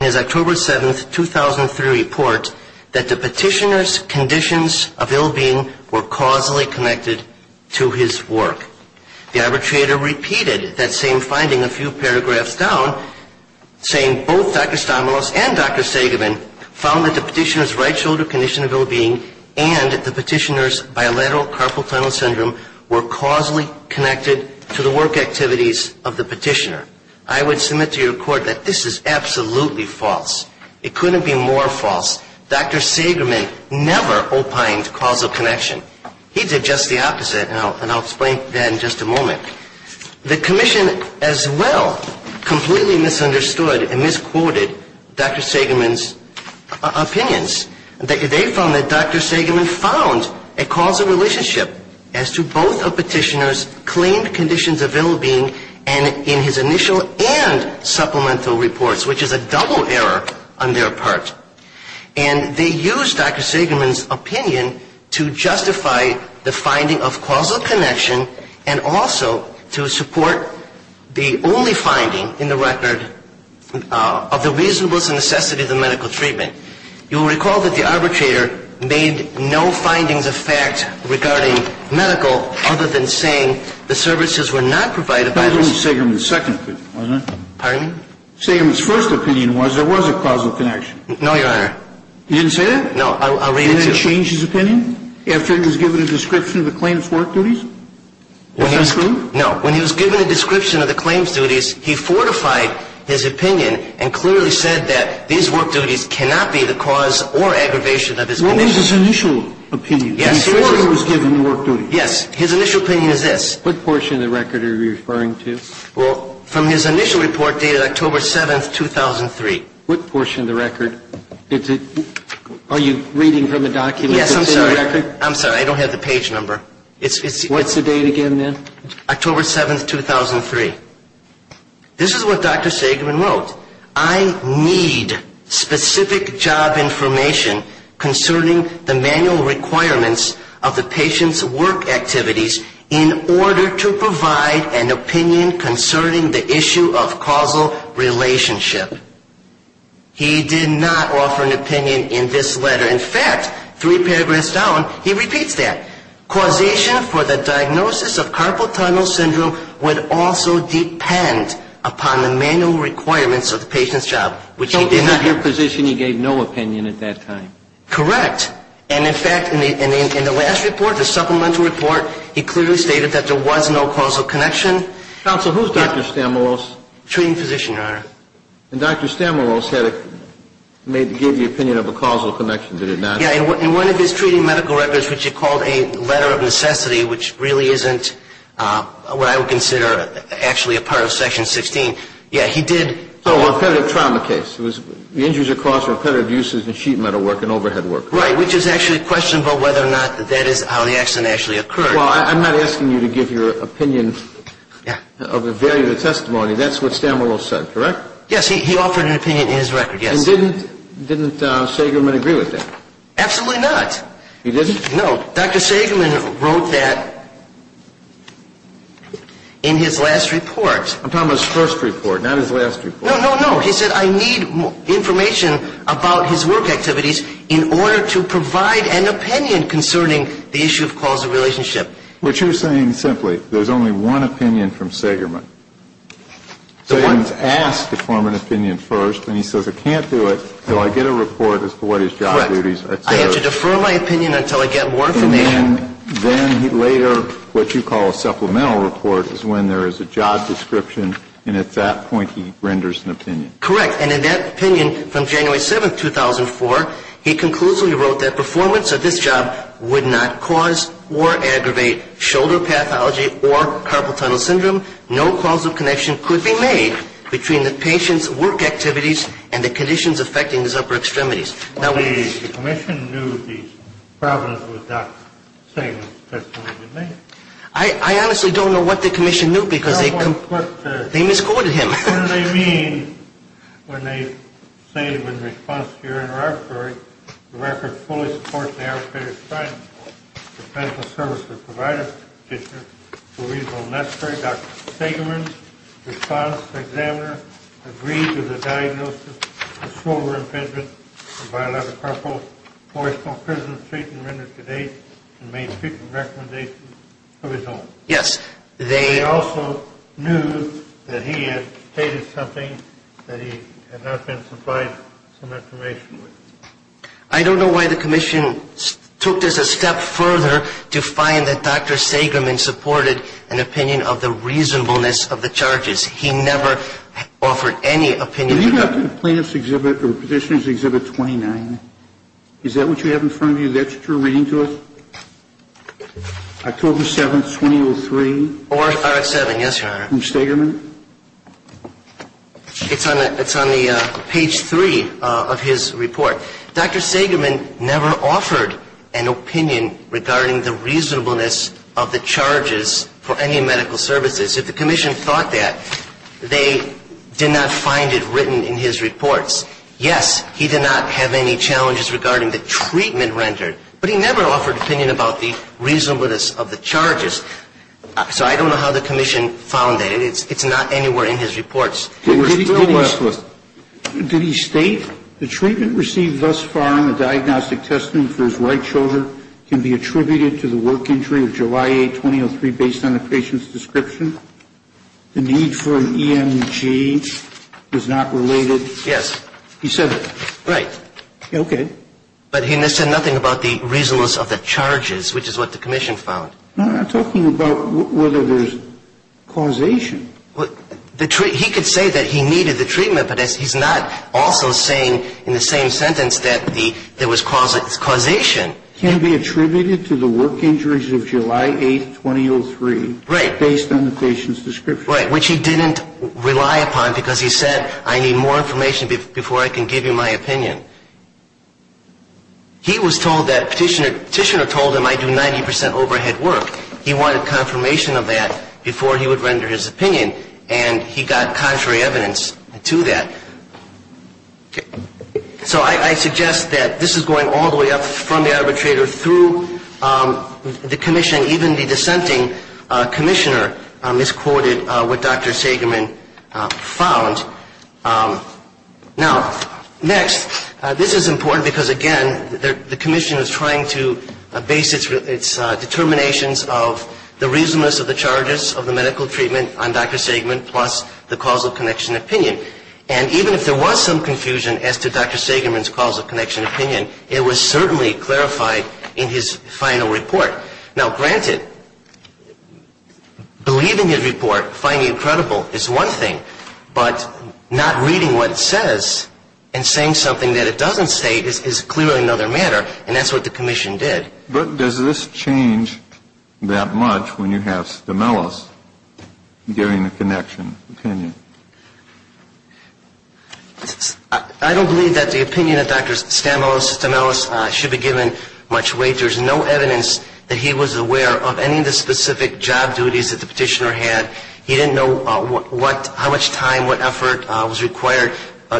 in his October 7, 2003, report that the petitioner's conditions of ill-being were causally connected to his work. The arbitrator repeated that same finding a few paragraphs down, saying both Dr. Stamoulos and Dr. Seigerman found that the petitioner's right shoulder condition of ill-being and the petitioner's bilateral carpal tunnel syndrome were causally connected to the work activities of the petitioner. I would submit to your court that this is absolutely false. It couldn't be more false. Dr. Seigerman never opined causal connection. He did just the opposite, and I'll explain that in just a moment. The commission as well completely misunderstood and misquoted Dr. Seigerman's opinions. They found that Dr. Seigerman found a causal relationship as to both the petitioner's claimed conditions of ill-being and in his initial and supplemental reports, which is a double error on their part. And they used Dr. Seigerman's opinion to justify the finding of causal connection and also to support the only finding in the record of the reasonableness and necessity of the medical treatment. You will recall that the arbitrator made no findings of fact regarding medical treatment. He did not say that Dr. Seigerman's opinion was causal, other than saying the services were not provided by the ---- That was only Seigerman's second opinion, wasn't it? Pardon me? Seigerman's first opinion was there was a causal connection. No, Your Honor. You didn't say that? No. I'll read it to you. His initial opinion is this. What portion of the record are you referring to? Well, from his initial report dated October 7, 2003. What portion of the record? Are you reading from a document? Yes, I'm sorry. I'm sorry. I don't have the page number. What's the date again, then? October 7, 2003. This is what Dr. Seigerman wrote. I need specific job information concerning the manual requirements of the patient's work activities in order to provide an opinion concerning the issue of causal relationship. He did not offer an opinion in this letter. In fact, three paragraphs down, he repeats that. Causation for the diagnosis of carpal tunnel syndrome would also depend upon the manual requirements of the patient's job, which he did not So in your position, he gave no opinion at that time? Correct. And, in fact, in the last report, the supplemental report, he clearly stated that there was no causal connection. Counsel, who's Dr. Stamoulos? Treating physician, Your Honor. And Dr. Stamoulos gave the opinion of a causal connection, did it not? Yeah. In one of his treating medical records, which he called a letter of necessity, which really isn't what I would consider actually a part of Section 16, yeah, he did So a repetitive trauma case. The injuries are caused by repetitive uses of sheet metal work and overhead work. Right, which is actually questionable whether or not that is how the accident actually occurred. Well, I'm not asking you to give your opinion of the value of the testimony. That's what Stamoulos said, correct? Yes. He offered an opinion in his record, yes. And didn't Sagerman agree with that? Absolutely not. He didn't? No. Dr. Sagerman wrote that in his last report. I'm talking about his first report, not his last report. No, no, no. He said, I need information about his work activities in order to provide an opinion concerning the issue of causal relationship. What you're saying simply, there's only one opinion from Sagerman. Sagerman's asked to form an opinion first, and he says, I can't do it until I get a report as to what his job duties are. Correct. I have to defer my opinion until I get more information. And then later, what you call a supplemental report is when there is a job description, and at that point he renders an opinion. Correct. And in that opinion from January 7, 2004, he conclusively wrote that performance of this job would not cause or aggravate shoulder pathology or carpal tunnel syndrome, no causal connection could be made between the patient's work activities and the conditions affecting his upper extremities. The commission knew the problems with Dr. Sagerman's testimony. I honestly don't know what the commission knew because they misquoted him. What do they mean when they say in response to your interrogatory, the record fully supports the arrested assailant's defense of services provided to the petitioner to a reasonable necessary. Dr. Sagerman's response to the examiner agreed to the diagnosis of shoulder impingement and bilateral carpal forceful prison treatment rendered to date and made frequent recommendations of his own. Yes. They also knew that he had stated something that he had not been supplied some information with. I don't know why the commission took this a step further to find that Dr. Sagerman supported an opinion of the reasonableness of the charges. He never offered any opinion. When you go to the plaintiff's exhibit or petitioner's exhibit 29, is that what you have in front of you? That's what you're reading to us? October 7, 2003? Or 7, yes, Your Honor. From Sagerman? It's on the page 3 of his report. Dr. Sagerman never offered an opinion regarding the reasonableness of the charges for any medical services. If the commission thought that, they did not find it written in his reports. Yes, he did not have any challenges regarding the treatment rendered, but he never offered an opinion about the reasonableness of the charges. So I don't know how the commission found that. It's not anywhere in his reports. Did he state the treatment received thus far in the diagnostic testing for his right shoulder can be attributed to the work injury of July 8, 2003, based on the patient's description? The need for an EMG is not related? Yes. He said that? Right. Okay. But he said nothing about the reasonableness of the charges, which is what the commission found. I'm not talking about whether there's causation. He could say that he needed the treatment, but he's not also saying in the same sentence that there was causation. Can be attributed to the work injuries of July 8, 2003. Right. Based on the patient's description. Right, which he didn't rely upon because he said, I need more information before I can give you my opinion. He was told that petitioner told him I do 90% overhead work. He wanted confirmation of that before he would render his opinion, and he got contrary evidence to that. So I suggest that this is going all the way up from the arbitrator through the commission, even the dissenting commissioner misquoted what Dr. Sagerman found. Now, next, this is important because, again, the commission is trying to base its determinations of the reasonableness of the charges of the medical treatment on Dr. Sagerman plus the causal connection opinion. And even if there was some confusion as to Dr. Sagerman's causal connection opinion, it was certainly clarified in his final report. Now, granted, believing his report, finding it credible is one thing, but not reading what it says and saying something that it doesn't say is clearly another matter, and that's what the commission did. But does this change that much when you have Stamelos giving the connection opinion? I don't believe that the opinion of Dr. Stamelos, Stamelos, should be given much weight. There's no evidence that he was aware of any of the specific job duties that the petitioner had. He didn't know how much time, what effort was required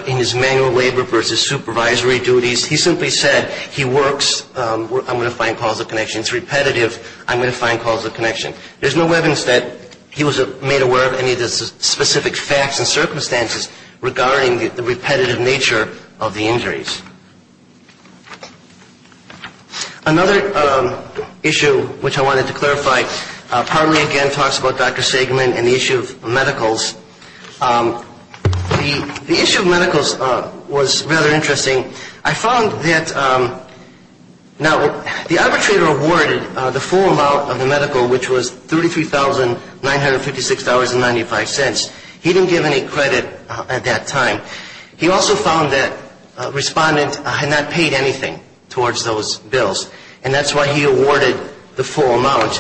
in his manual labor versus supervisory duties. He simply said he works. I'm going to find causal connection. It's repetitive. I'm going to find causal connection. There's no evidence that he was made aware of any of the specific facts and circumstances regarding the repetitive nature of the injuries. Another issue which I wanted to clarify partly, again, talks about Dr. Sagerman and the issue of medicals. The issue of medicals was rather interesting. I found that now the arbitrator awarded the full amount of the medical, which was $33,956.95. He didn't give any credit at that time. He also found that Respondent had not paid anything towards those bills, and that's why he awarded the full amount,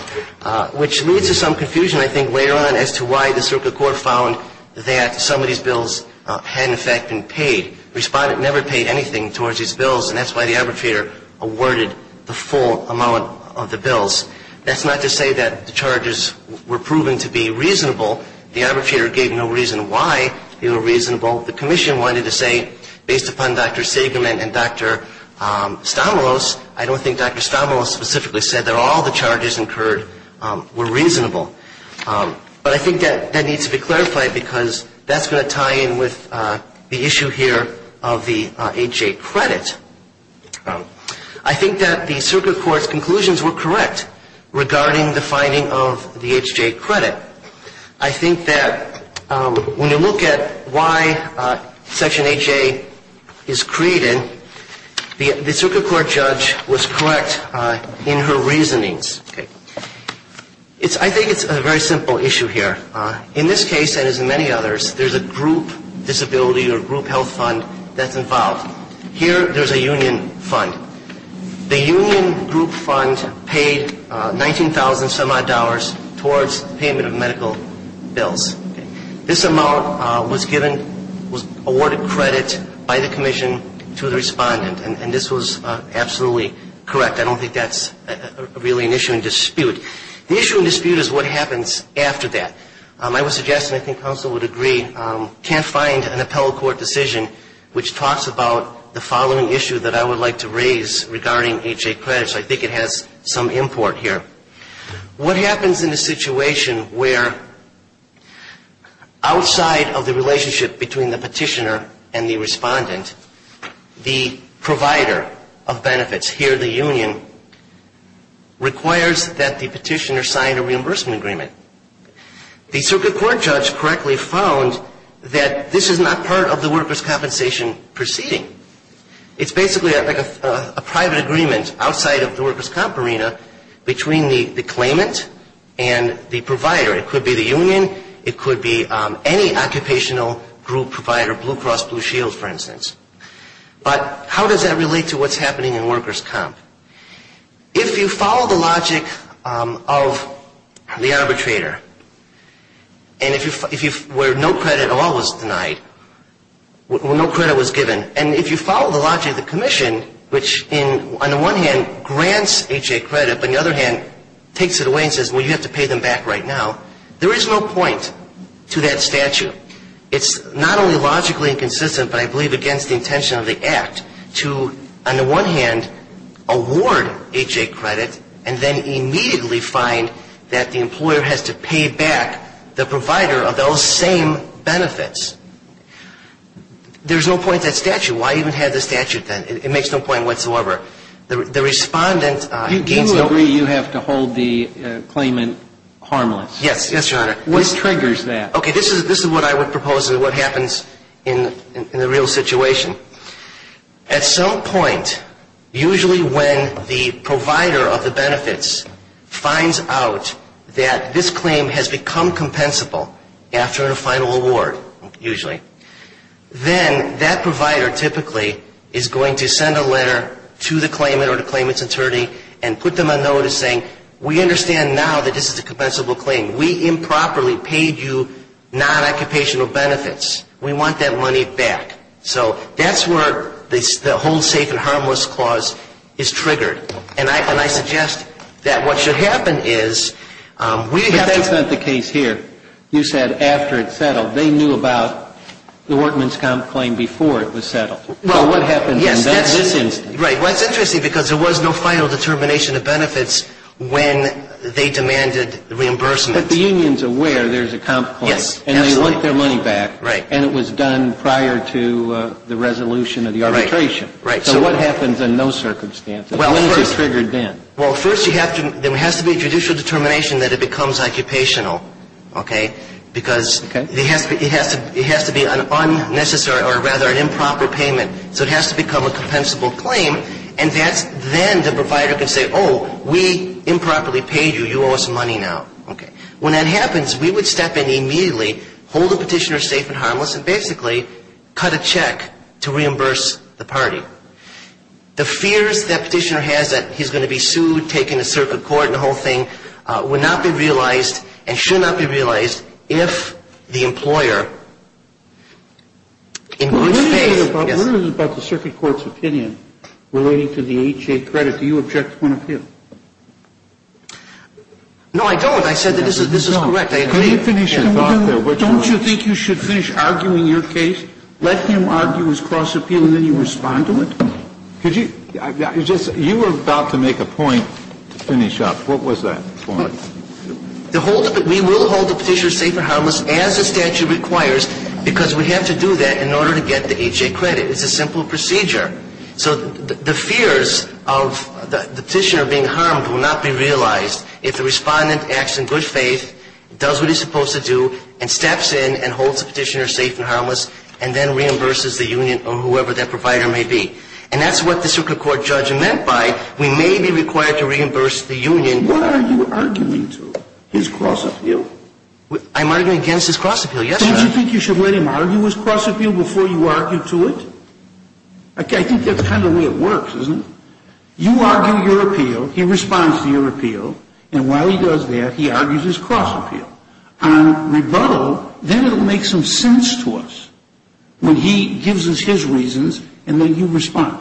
which leads to some confusion, I think, later on as to why the circuit court found that some of these bills had, in fact, been paid. Respondent never paid anything towards these bills, and that's why the arbitrator awarded the full amount of the bills. That's not to say that the charges were proven to be reasonable. The arbitrator gave no reason why they were reasonable. The commission wanted to say, based upon Dr. Sagerman and Dr. Stamoulos, I don't think Dr. Stamoulos specifically said that all the charges incurred were reasonable. But I think that needs to be clarified because that's going to tie in with the issue here of the H.J. credit. I think that the circuit court's conclusions were correct regarding the finding of the H.J. credit. I think that when you look at why Section H.J. is created, the circuit court judge was correct in her reasonings. I think it's a very simple issue here. In this case, and as in many others, there's a group disability or group health fund that's involved. Here, there's a union fund. The union group fund paid $19,000-some-odd towards payment of medical bills. This amount was awarded credit by the commission to the respondent, and this was absolutely correct. I don't think that's really an issue in dispute. The issue in dispute is what happens after that. I would suggest, and I think counsel would agree, can't find an appellate court decision which talks about the following issue that I would like to raise regarding H.J. credits. I think it has some import here. What happens in a situation where outside of the relationship between the petitioner and the respondent, the provider of benefits, here the union, requires that the petitioner sign a reimbursement agreement? The circuit court judge correctly found that this is not part of the workers' compensation proceeding. It's basically a private agreement outside of the workers' comp arena between the claimant and the provider. It could be the union. It could be any occupational group provider, Blue Cross Blue Shield, for instance. But how does that relate to what's happening in workers' comp? If you follow the logic of the arbitrator, where no credit at all was denied, where no credit was given, and if you follow the logic of the commission, which on the one hand grants H.J. credit, but on the other hand takes it away and says, well, you have to pay them back right now, there is no point to that statute. It's not only logically inconsistent, but I believe against the intention of the act to, on the one hand, award H.J. credit and then immediately find that the employer has to pay back the provider of those same benefits. There is no point to that statute. Why even have the statute then? It makes no point whatsoever. The respondent gains the op... Do you agree you have to hold the claimant harmless? Yes, yes, Your Honor. What triggers that? Okay, this is what I would propose and what happens in the real situation. At some point, usually when the provider of the benefits finds out that this claim has become compensable after a final award, usually, then that provider typically is going to send a letter to the claimant or the claimant's attorney and put them on notice saying, we understand now that this is a compensable claim. We improperly paid you non-occupational benefits. We want that money back. So that's where the hold safe and harmless clause is triggered. And I suggest that what should happen is we have to... But that's not the case here. You said after it's settled. They knew about the workman's comp claim before it was settled. Well, yes, that's... So what happens in this instance? Right. Well, it's interesting because there was no final determination of benefits when they demanded reimbursement. But the union's aware there's a comp claim. Yes, absolutely. And they want their money back. Right. And it was done prior to the resolution of the arbitration. Right. So what happens in those circumstances? Well, first... When is it triggered then? Well, first, there has to be a judicial determination that it becomes occupational, okay, because... Okay. It has to be an improper payment. So it has to become a compensable claim. And then the provider can say, oh, we improperly paid you. You owe us money now. Okay. When that happens, we would step in immediately, hold the petitioner safe and harmless, and basically cut a check to reimburse the party. The fears that petitioner has that he's going to be sued, taken to circuit court, and the whole thing, would not be realized and should not be realized if the employer... What is it about the circuit court's opinion relating to the H.A. credit? Do you object to an appeal? No, I don't. I said that this is correct. Can you finish your thought there? Don't you think you should finish arguing your case, let him argue his cross appeal, and then you respond to it? Could you? You were about to make a point to finish up. What was that point? We will hold the petitioner safe and harmless as the statute requires, because we have to do that in order to get the H.A. credit. It's a simple procedure. So the fears of the petitioner being harmed will not be realized if the Respondent acts in good faith, does what he's supposed to do, and steps in and holds the petitioner safe and harmless, and then reimburses the union or whoever that provider may be. And that's what the circuit court judge meant by we may be required to reimburse the union. What are you arguing to? His cross appeal? I'm arguing against his cross appeal. Yes, sir. Don't you think you should let him argue his cross appeal before you argue to it? I think that's kind of the way it works, isn't it? You argue your appeal, he responds to your appeal, and while he does that, he argues his cross appeal. On rebuttal, then it will make some sense to us when he gives us his reasons and then you respond.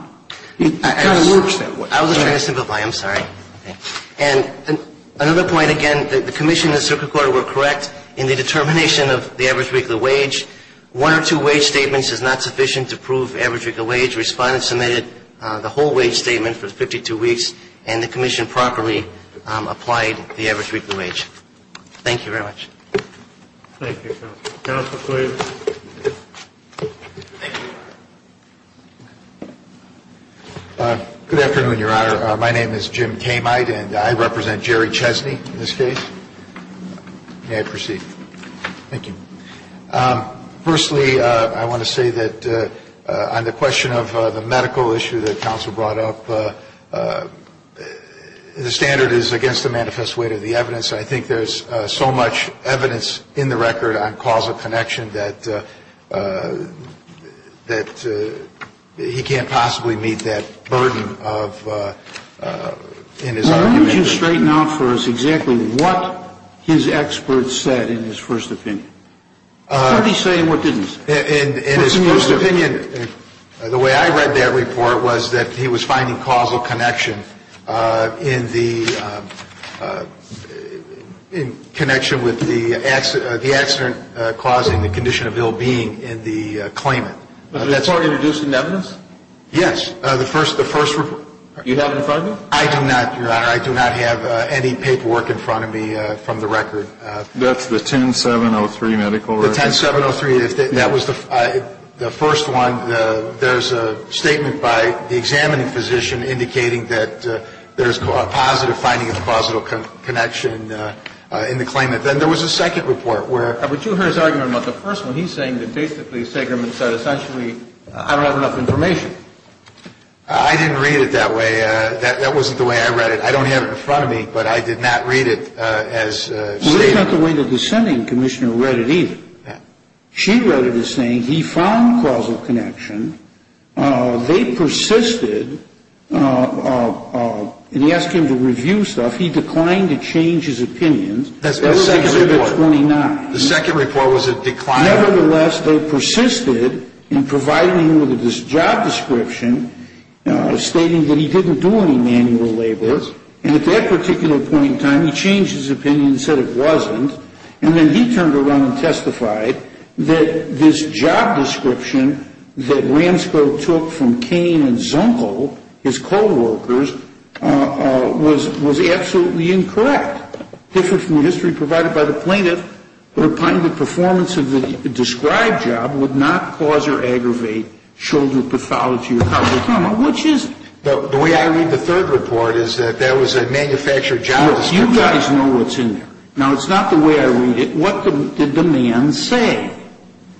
It kind of works that way. I was just trying to simplify. I'm sorry. And another point, again, the commission and the circuit court were correct in the determination of the average weekly wage. One or two wage statements is not sufficient to prove average weekly wage. Respondents submitted the whole wage statement for 52 weeks, and the commission properly applied the average weekly wage. Thank you very much. Thank you, counsel. Counsel, please. Thank you. Good afternoon, Your Honor. My name is Jim Kamite, and I represent Jerry Chesney in this case. May I proceed? Thank you. Firstly, I want to say that on the question of the medical issue that counsel brought up, the standard is against the manifest weight of the evidence. I think there's so much evidence in the record on causal connection that he can't possibly meet that burden of his argument. Why don't you straighten out for us exactly what his experts said in his first opinion? What did he say and what didn't he say? In his first opinion, the way I read that report was that he was finding causal connection in the connection with the accident causing the condition of ill-being in the claimant. Was the report introduced in evidence? Yes. The first report. Do you have it in front of you? I do not, Your Honor. I do not have any paperwork in front of me from the record. That's the 10703 medical record? The 10703. That was the first one. There's a statement by the examining physician indicating that there's a positive finding of a positive connection in the claimant. Then there was a second report where the first one he's saying that basically Sagerman said essentially I don't have enough information. I didn't read it that way. That wasn't the way I read it. I don't have it in front of me, but I did not read it as stated. Well, that's not the way the dissenting commissioner read it either. She read it as saying he found causal connection. They persisted, and he asked him to review stuff. He declined to change his opinion. That's the second report. The second report was a decline. Nevertheless, they persisted in providing him with this job description stating that he didn't do any manual labor. And at that particular point in time, he changed his opinion and said it wasn't. And then he turned around and testified that this job description that Ransco took from Kane and Zunkel, his coworkers, was absolutely incorrect. Different from the history provided by the plaintiff, the performance of the described job would not cause or aggravate shoulder pathology or causal trauma, which is. The way I read the third report is that there was a manufactured job description. You guys know what's in there. Now, it's not the way I read it. What did the man say?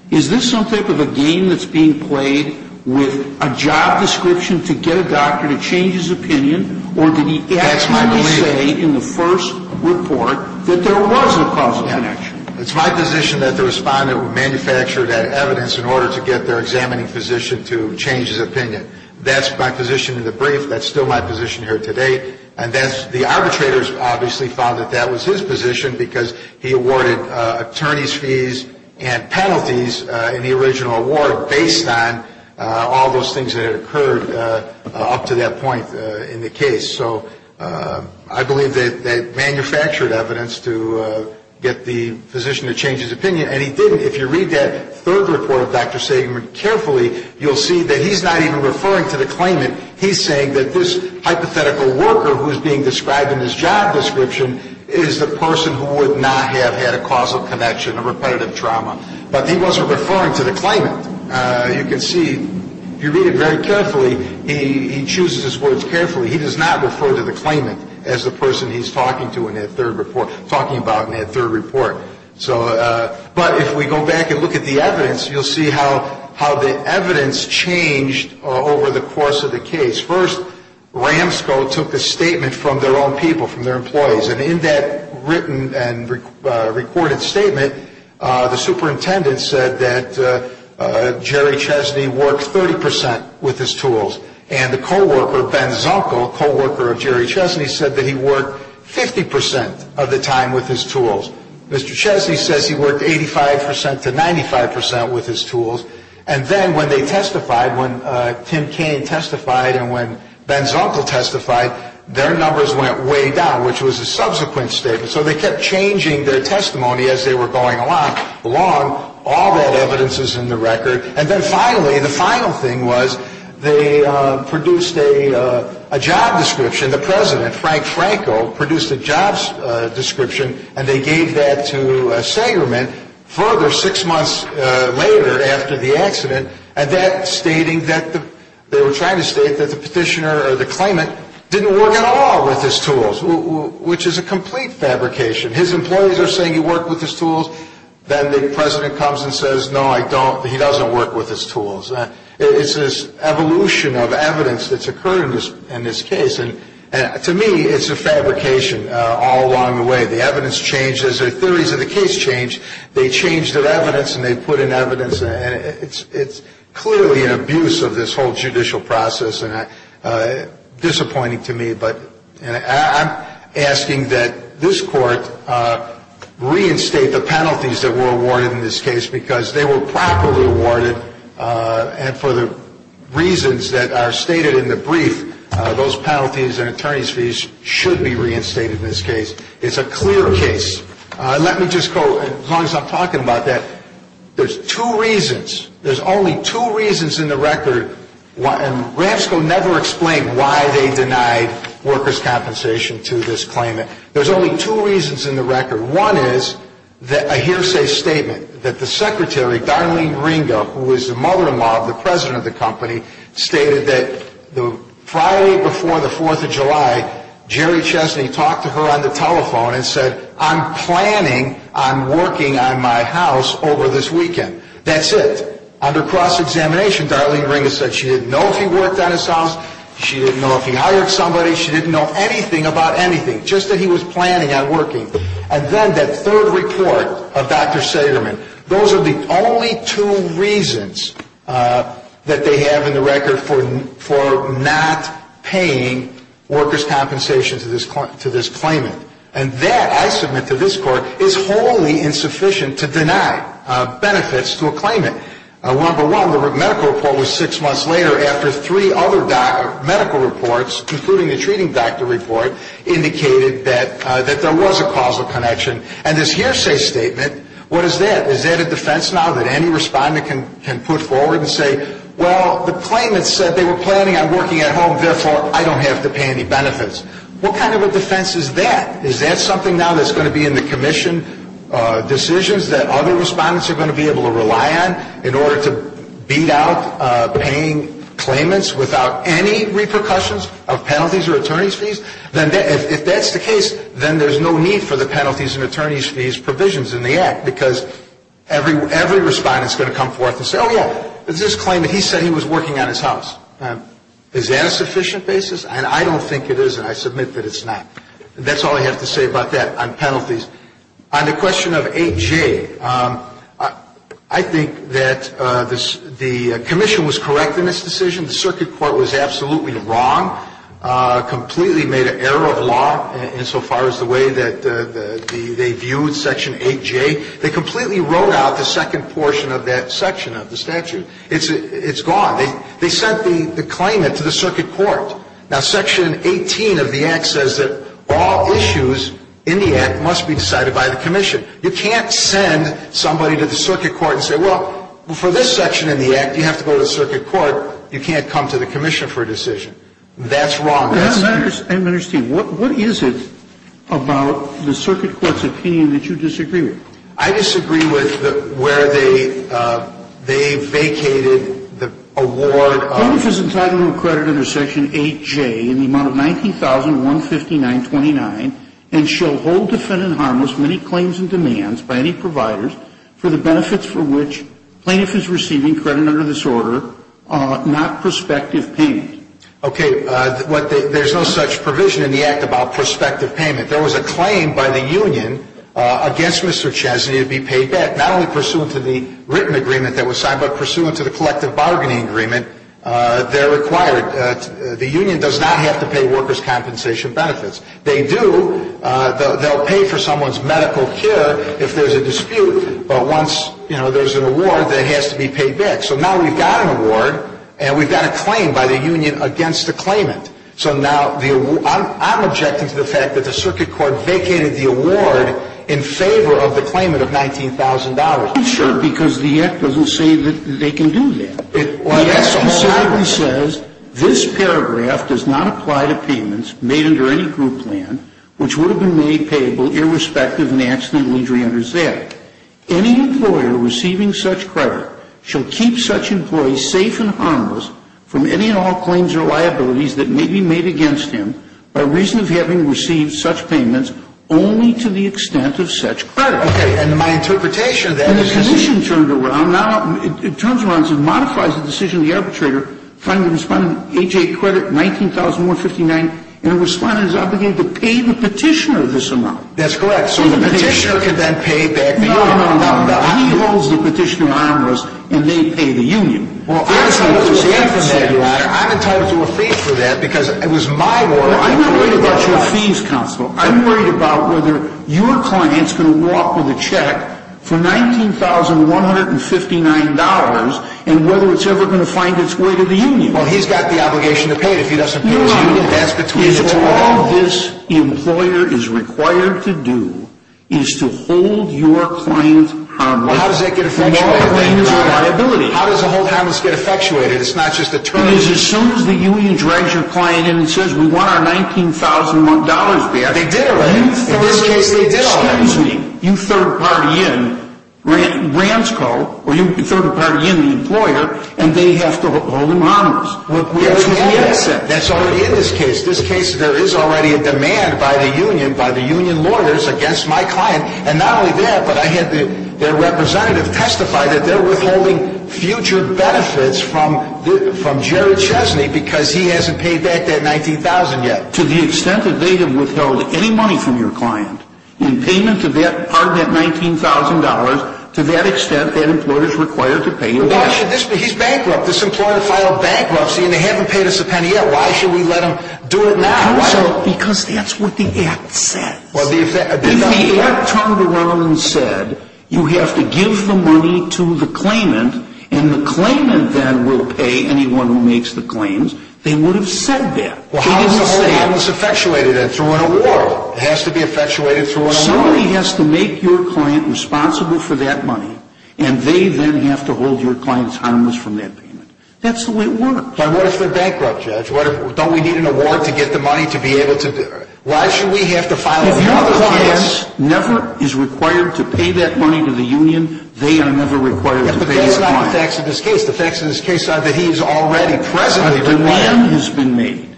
Is this some type of a game that's being played with a job description to get a doctor to change his opinion, or did he actually say in the first report that there was a causal connection? It's my position that the respondent manufactured that evidence in order to get their examining physician to change his opinion. That's my position in the brief. That's still my position here today. And the arbitrators obviously found that that was his position because he awarded attorneys' fees and penalties in the original award based on all those things that had occurred up to that point in the case. So I believe they manufactured evidence to get the physician to change his opinion, and he didn't. If you read that third report of Dr. Segerman carefully, you'll see that he's not even referring to the claimant. He's saying that this hypothetical worker who is being described in his job description is the person who would not have had a causal connection, a repetitive trauma. But he wasn't referring to the claimant. You can see, if you read it very carefully, he chooses his words carefully. He does not refer to the claimant as the person he's talking about in that third report. But if we go back and look at the evidence, you'll see how the evidence changed over the course of the case. First, Ramsco took a statement from their own people, from their employees. And in that written and recorded statement, the superintendent said that Jerry Chesney worked 30% with his tools. And the co-worker, Ben Zunkel, co-worker of Jerry Chesney, said that he worked 50% of the time with his tools. Mr. Chesney says he worked 85% to 95% with his tools. And then when they testified, when Tim Kaine testified and when Ben Zunkel testified, their numbers went way down, which was a subsequent statement. So they kept changing their testimony as they were going along, all that evidence is in the record. And then finally, the final thing was they produced a job description. The president, Frank Franco, produced a jobs description, and they gave that to Sagerman. Further, six months later after the accident, and that stating that they were trying to state that the petitioner or the claimant didn't work at all with his tools, which is a complete fabrication. His employees are saying he worked with his tools. Then the president comes and says, no, I don't, he doesn't work with his tools. It's this evolution of evidence that's occurred in this case. And to me, it's a fabrication all along the way. The evidence changes. The theories of the case change. They change their evidence, and they put in evidence. And it's clearly an abuse of this whole judicial process and disappointing to me. But I'm asking that this Court reinstate the penalties that were awarded in this case because they were properly awarded, and for the reasons that are stated in the brief, those penalties and attorney's fees should be reinstated in this case. It's a clear case. Let me just go, as long as I'm talking about that, there's two reasons. There's only two reasons in the record, and RAFSCO never explained why they denied workers' compensation to this claimant. There's only two reasons in the record. One is a hearsay statement that the secretary, Darlene Ringo, who was the mother-in-law of the president of the company, stated that the Friday before the 4th of July, Jerry Chesney talked to her on the telephone and said, I'm planning on working on my house over this weekend. That's it. Under cross-examination, Darlene Ringo said she didn't know if he worked on his house. She didn't know if he hired somebody. She didn't know anything about anything, just that he was planning on working. And then that third report of Dr. Sederman. Those are the only two reasons that they have in the record for not paying workers' compensation to this claimant. And that, I submit to this Court, is wholly insufficient to deny benefits to a claimant. Number one, the medical report was six months later after three other medical reports, including the treating doctor report, indicated that there was a causal connection. And this hearsay statement, what is that? Is that a defense now that any respondent can put forward and say, well, the claimant said they were planning on working at home, therefore I don't have to pay any benefits. What kind of a defense is that? Is that something now that's going to be in the commission decisions that other respondents are going to be able to rely on in order to beat out paying claimants without any repercussions of penalties or attorney's fees? If that's the case, then there's no need for the penalties and attorney's fees provisions in the Act because every respondent is going to come forth and say, oh, yeah, this claimant, he said he was working on his house. Is that a sufficient basis? And I don't think it is, and I submit that it's not. That's all I have to say about that on penalties. On the question of 8J, I think that the commission was correct in this decision. The circuit court was absolutely wrong, completely made an error of law insofar as the way that they viewed Section 8J. They completely wrote out the second portion of that section of the statute. It's gone. They sent the claimant to the circuit court. Now, Section 18 of the Act says that all issues in the Act must be decided by the commission. You can't send somebody to the circuit court and say, well, for this section in the Act you have to go to the circuit court. You can't come to the commission for a decision. That's wrong. That's not true. And, Mr. Steele, what is it about the circuit court's opinion that you disagree with? I disagree with where they vacated the award of ---- Plaintiff is entitled to a credit under Section 8J in the amount of $19,159.29 and shall hold defendant harmless many claims and demands by any providers for the benefits for which plaintiff is receiving credit under this order, not prospective payment. Okay. There's no such provision in the Act about prospective payment. There was a claim by the union against Mr. Chesney to be paid back, not only pursuant to the written agreement that was signed, but pursuant to the collective bargaining agreement there required. The union does not have to pay workers' compensation benefits. They do. They'll pay for someone's medical care if there's a dispute. But once, you know, there's an award that has to be paid back. So now we've got an award and we've got a claim by the union against the claimant. So now I'm objecting to the fact that the circuit court vacated the award in favor of the claimant of $19,000. Because the Act doesn't say that they can do that. Yes, it says this paragraph does not apply to payments made under any group plan, which would have been made payable irrespective of the accident and injury under that. Any employer receiving such credit shall keep such employees safe and harmless from any and all claims or liabilities that may be made against him by reason of having received such payments only to the extent of such credit. Okay. And my interpretation of that is... Now it turns around and modifies the decision of the arbitrator. Finally the respondent, H.A. Credit, $19,159. And the respondent is obligated to pay the petitioner this amount. That's correct. So the petitioner can then pay back the union. No, no, no. He holds the petitioner harmless and they pay the union. Well, I'm entitled to a fee for that because it was my order. Well, I'm not worried about your fees, counsel. I'm worried about whether your client is going to walk with a check for $19,159 and whether it's ever going to find its way to the union. Well, he's got the obligation to pay it. If he doesn't pay it to the union, that's between the two of them. No, no. All this employer is required to do is to hold your client harmless. Well, how does that get effectuated then? No, the claim is a liability. How does a hold harmless get effectuated? It's not just a term. Well, it is as soon as the union drags your client in and says, We want our $19,000 back. They did already. In this case, they did already. Excuse me. You third-party in Bransco, or you third-party in the employer, and they have to hold him harmless. That's already in this case. In this case, there is already a demand by the union, by the union lawyers, against my client. And not only that, but I had their representative testify that they're withholding future benefits from Jerry Chesney because he hasn't paid back that $19,000 yet. To the extent that they have withheld any money from your client in payment of that $19,000, to that extent, that employer is required to pay you back. Why should this be? He's bankrupt. This employer filed bankruptcy, and they haven't paid us a penny yet. Why should we let them do it now? Because that's what the Act says. If the Act turned around and said, you have to give the money to the claimant, and the claimant then will pay anyone who makes the claims, they would have said that. They didn't say it. Well, how is the hold harmless effectuated then? Through an award. It has to be effectuated through an award. Somebody has to make your client responsible for that money, and they then have to hold your client harmless from that payment. That's the way it works. But what if they're bankrupt, Judge? Don't we need an award to get the money to be able to do it? Why should we have to file a claim? If your client never is required to pay that money to the union, they are never required to pay their client. But that's not the facts of this case. The facts of this case are that he is already presently bankrupt. A demand has been made.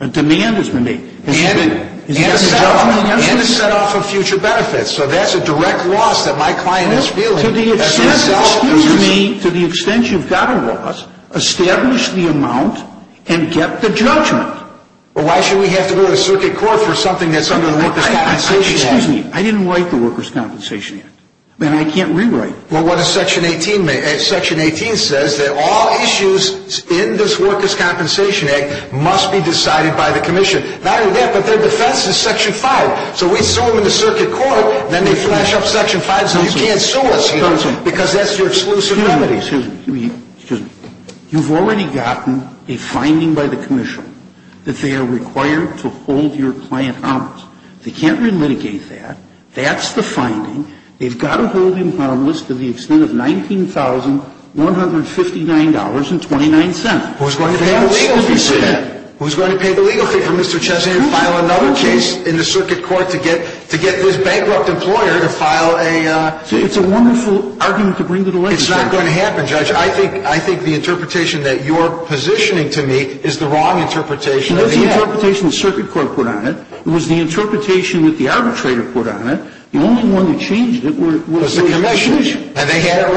A demand has been made. And a set off of future benefits. So that's a direct loss that my client is feeling. To the extent you've got a loss, establish the amount and get the judgment. Well, why should we have to go to circuit court for something that's under the Workers' Compensation Act? Excuse me. I didn't write the Workers' Compensation Act. And I can't rewrite it. Well, what does Section 18 say? Section 18 says that all issues in this Workers' Compensation Act must be decided by the commission. Not only that, but their defense is Section 5. So we sue them in the circuit court, then they flash up Section 5 so you can't sue us here. Because that's your exclusive remedy. Excuse me. Excuse me. You've already gotten a finding by the commission that they are required to hold your client honest. They can't relitigate that. That's the finding. They've got to hold him on a list to the extent of $19,159.29. Who's going to pay the legal fee for that? Who's going to pay the legal fee for Mr. Chesney and file another case in the circuit court to get this bankrupt employer to file a case? It's a wonderful argument to bring to the legislature. It's not going to happen, Judge. I think the interpretation that you're positioning to me is the wrong interpretation. That's the interpretation the circuit court put on it. It was the interpretation that the arbitrator put on it. The only one that changed it was the commission. It was the commission. And they had it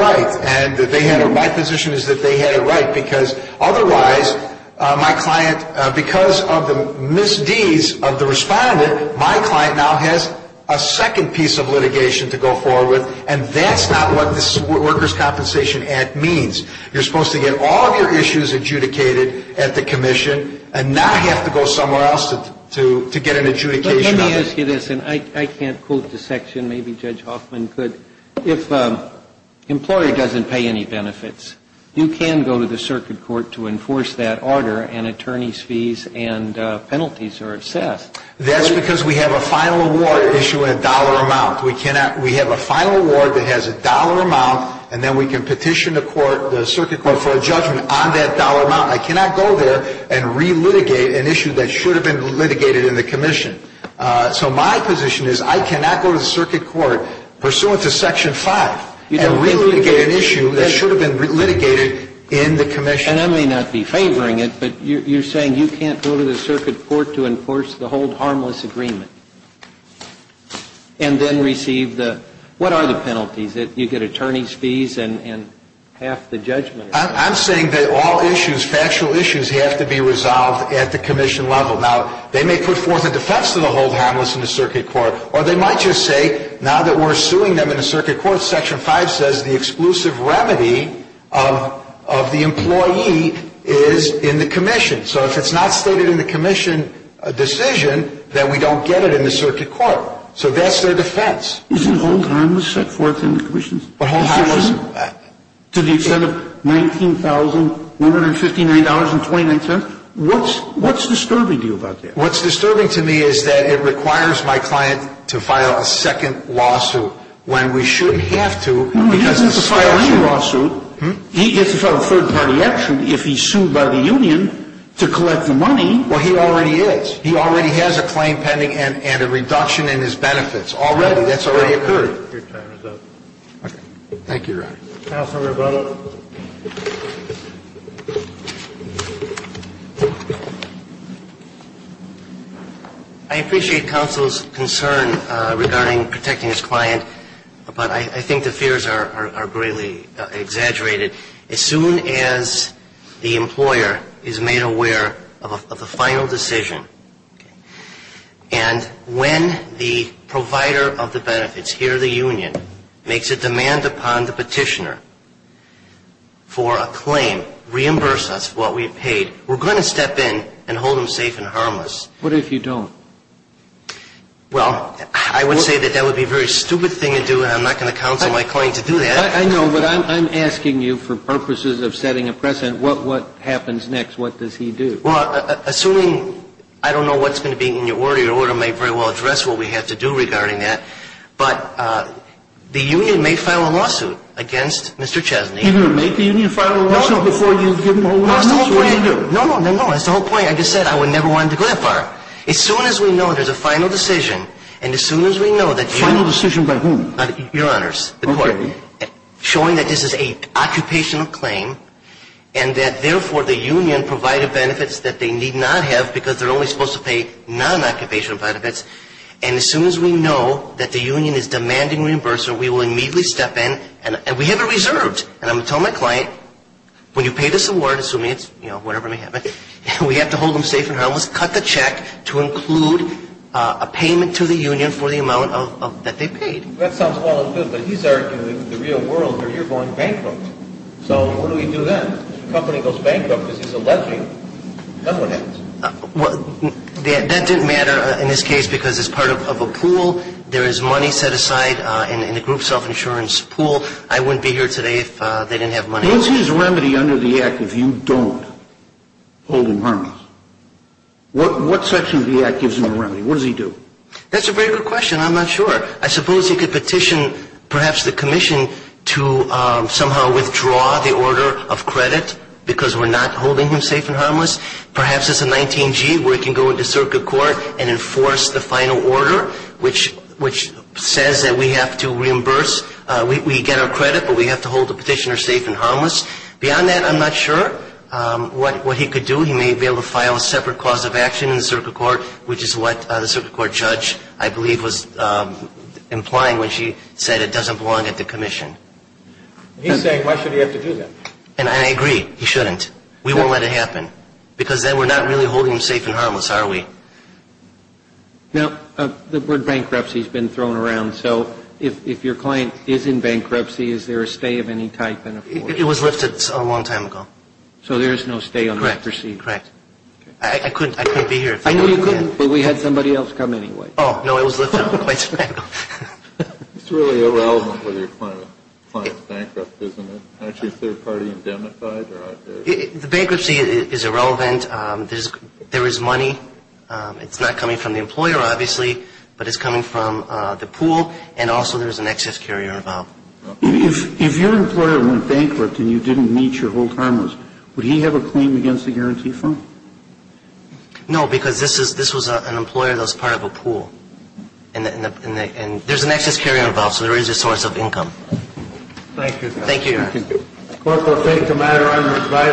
right. My position is that they had it right because otherwise my client, because of the misdeeds of the respondent, my client now has a second piece of litigation to go forward with. And that's not what this Workers' Compensation Act means. You're supposed to get all of your issues adjudicated at the commission and not have to go somewhere else to get an adjudication on it. Let me ask you this, and I can't quote the section. Maybe Judge Hoffman could. If an employer doesn't pay any benefits, you can go to the circuit court to enforce that order, and attorneys' fees and penalties are assessed. That's because we have a final award issued in a dollar amount. We have a final award that has a dollar amount, and then we can petition the circuit court for a judgment on that dollar amount. I cannot go there and relitigate an issue that should have been litigated in the commission. So my position is I cannot go to the circuit court pursuant to section 5 and relitigate an issue that should have been litigated in the commission. And I may not be favoring it, but you're saying you can't go to the circuit court to enforce the Hold Harmless Agreement and then receive the – what are the penalties? You get attorney's fees and half the judgment. I'm saying that all issues, factual issues, have to be resolved at the commission level. Now, they may put forth a defense to the Hold Harmless in the circuit court, or they might just say now that we're suing them in the circuit court, section 5 says the exclusive remedy of the employee is in the commission. So if it's not stated in the commission decision, then we don't get it in the circuit court. So that's their defense. Isn't Hold Harmless set forth in the commission's decision? Hold Harmless – To the extent of $19,159.29? What's disturbing to you about that? What's disturbing to me is that it requires my client to file a second lawsuit when we shouldn't have to because the statute – He doesn't have to file any lawsuit. He gets to file a third-party action if he's sued by the union. He doesn't have to file a third-party action if he's sued by the union to collect the money. Well, he already is. He already has a claim pending and a reduction in his benefits already. That's already occurred. Your time is up. Okay. Thank you, Your Honor. Counsel Roboto. I appreciate counsel's concern regarding protecting his client, but I think the fears are greatly exaggerated. As soon as the employer is made aware of a final decision, and when the provider of the benefits, here the union, makes a demand upon the petitioner for a claim, reimburse us what we've paid, we're going to step in and hold him safe and harmless. What if you don't? Well, I would say that that would be a very stupid thing to do, and I'm not going to counsel my client to do that. I know, but I'm asking you for purposes of setting a precedent. What happens next? What does he do? Well, assuming – I don't know what's going to be in your order. Your order may very well address what we have to do regarding that. But the union may file a lawsuit against Mr. Chesney. You're going to make the union file a lawsuit before you give them a lawsuit? No, that's the whole point. No, no, no, no. That's the whole point. Like I said, I would never want him to go that far. As soon as we know there's a final decision, and as soon as we know that union has a final decision by whom? Your Honors, the court. Okay. Showing that this is an occupational claim and that, therefore, the union provided benefits that they need not have because they're only supposed to pay non-occupational benefits. And as soon as we know that the union is demanding reimbursement, we will immediately step in and we have it reserved. And I'm going to tell my client, when you pay this award, assuming it's, you know, whatever may happen, we have to hold him safe and harmless, cut the check to include a payment to the union for the amount that they paid. That sounds all good, but he's arguing the real world where you're going bankrupt. So what do we do then? If the company goes bankrupt because he's a lesbian, then what happens? That didn't matter in this case because it's part of a pool. There is money set aside in the group self-insurance pool. I wouldn't be here today if they didn't have money. Who's his remedy under the Act if you don't hold him harmless? What section of the Act gives him a remedy? What does he do? That's a very good question. I'm not sure. I suppose he could petition perhaps the commission to somehow withdraw the order of credit because we're not holding him safe and harmless. Perhaps it's a 19G where he can go into circuit court and enforce the final order, which says that we have to reimburse. We get our credit, but we have to hold the petitioner safe and harmless. Beyond that, I'm not sure what he could do. He may be able to file a separate cause of action in the circuit court, which is what the circuit court judge, I believe, was implying when she said it doesn't belong at the commission. He's saying why should he have to do that? And I agree. He shouldn't. We won't let it happen because then we're not really holding him safe and harmless, are we? Now, the word bankruptcy has been thrown around, so if your client is in bankruptcy, is there a stay of any type and a force? It was lifted a long time ago. So there is no stay on the bankruptcy? Correct. I couldn't be here. I know you couldn't, but we had somebody else come anyway. Oh, no, it was lifted a long time ago. It's really irrelevant whether your client is bankrupt, isn't it? Is your third party indemnified? The bankruptcy is irrelevant. There is money. It's not coming from the employer, obviously, but it's coming from the pool, and also there is an excess carrier involved. If your employer went bankrupt and you didn't meet your whole harmless, would he have a claim against the guarantee fund? No, because this was an employer that was part of a pool, and there's an excess carrier involved, so there is a source of income. Thank you. Thank you, Your Honor.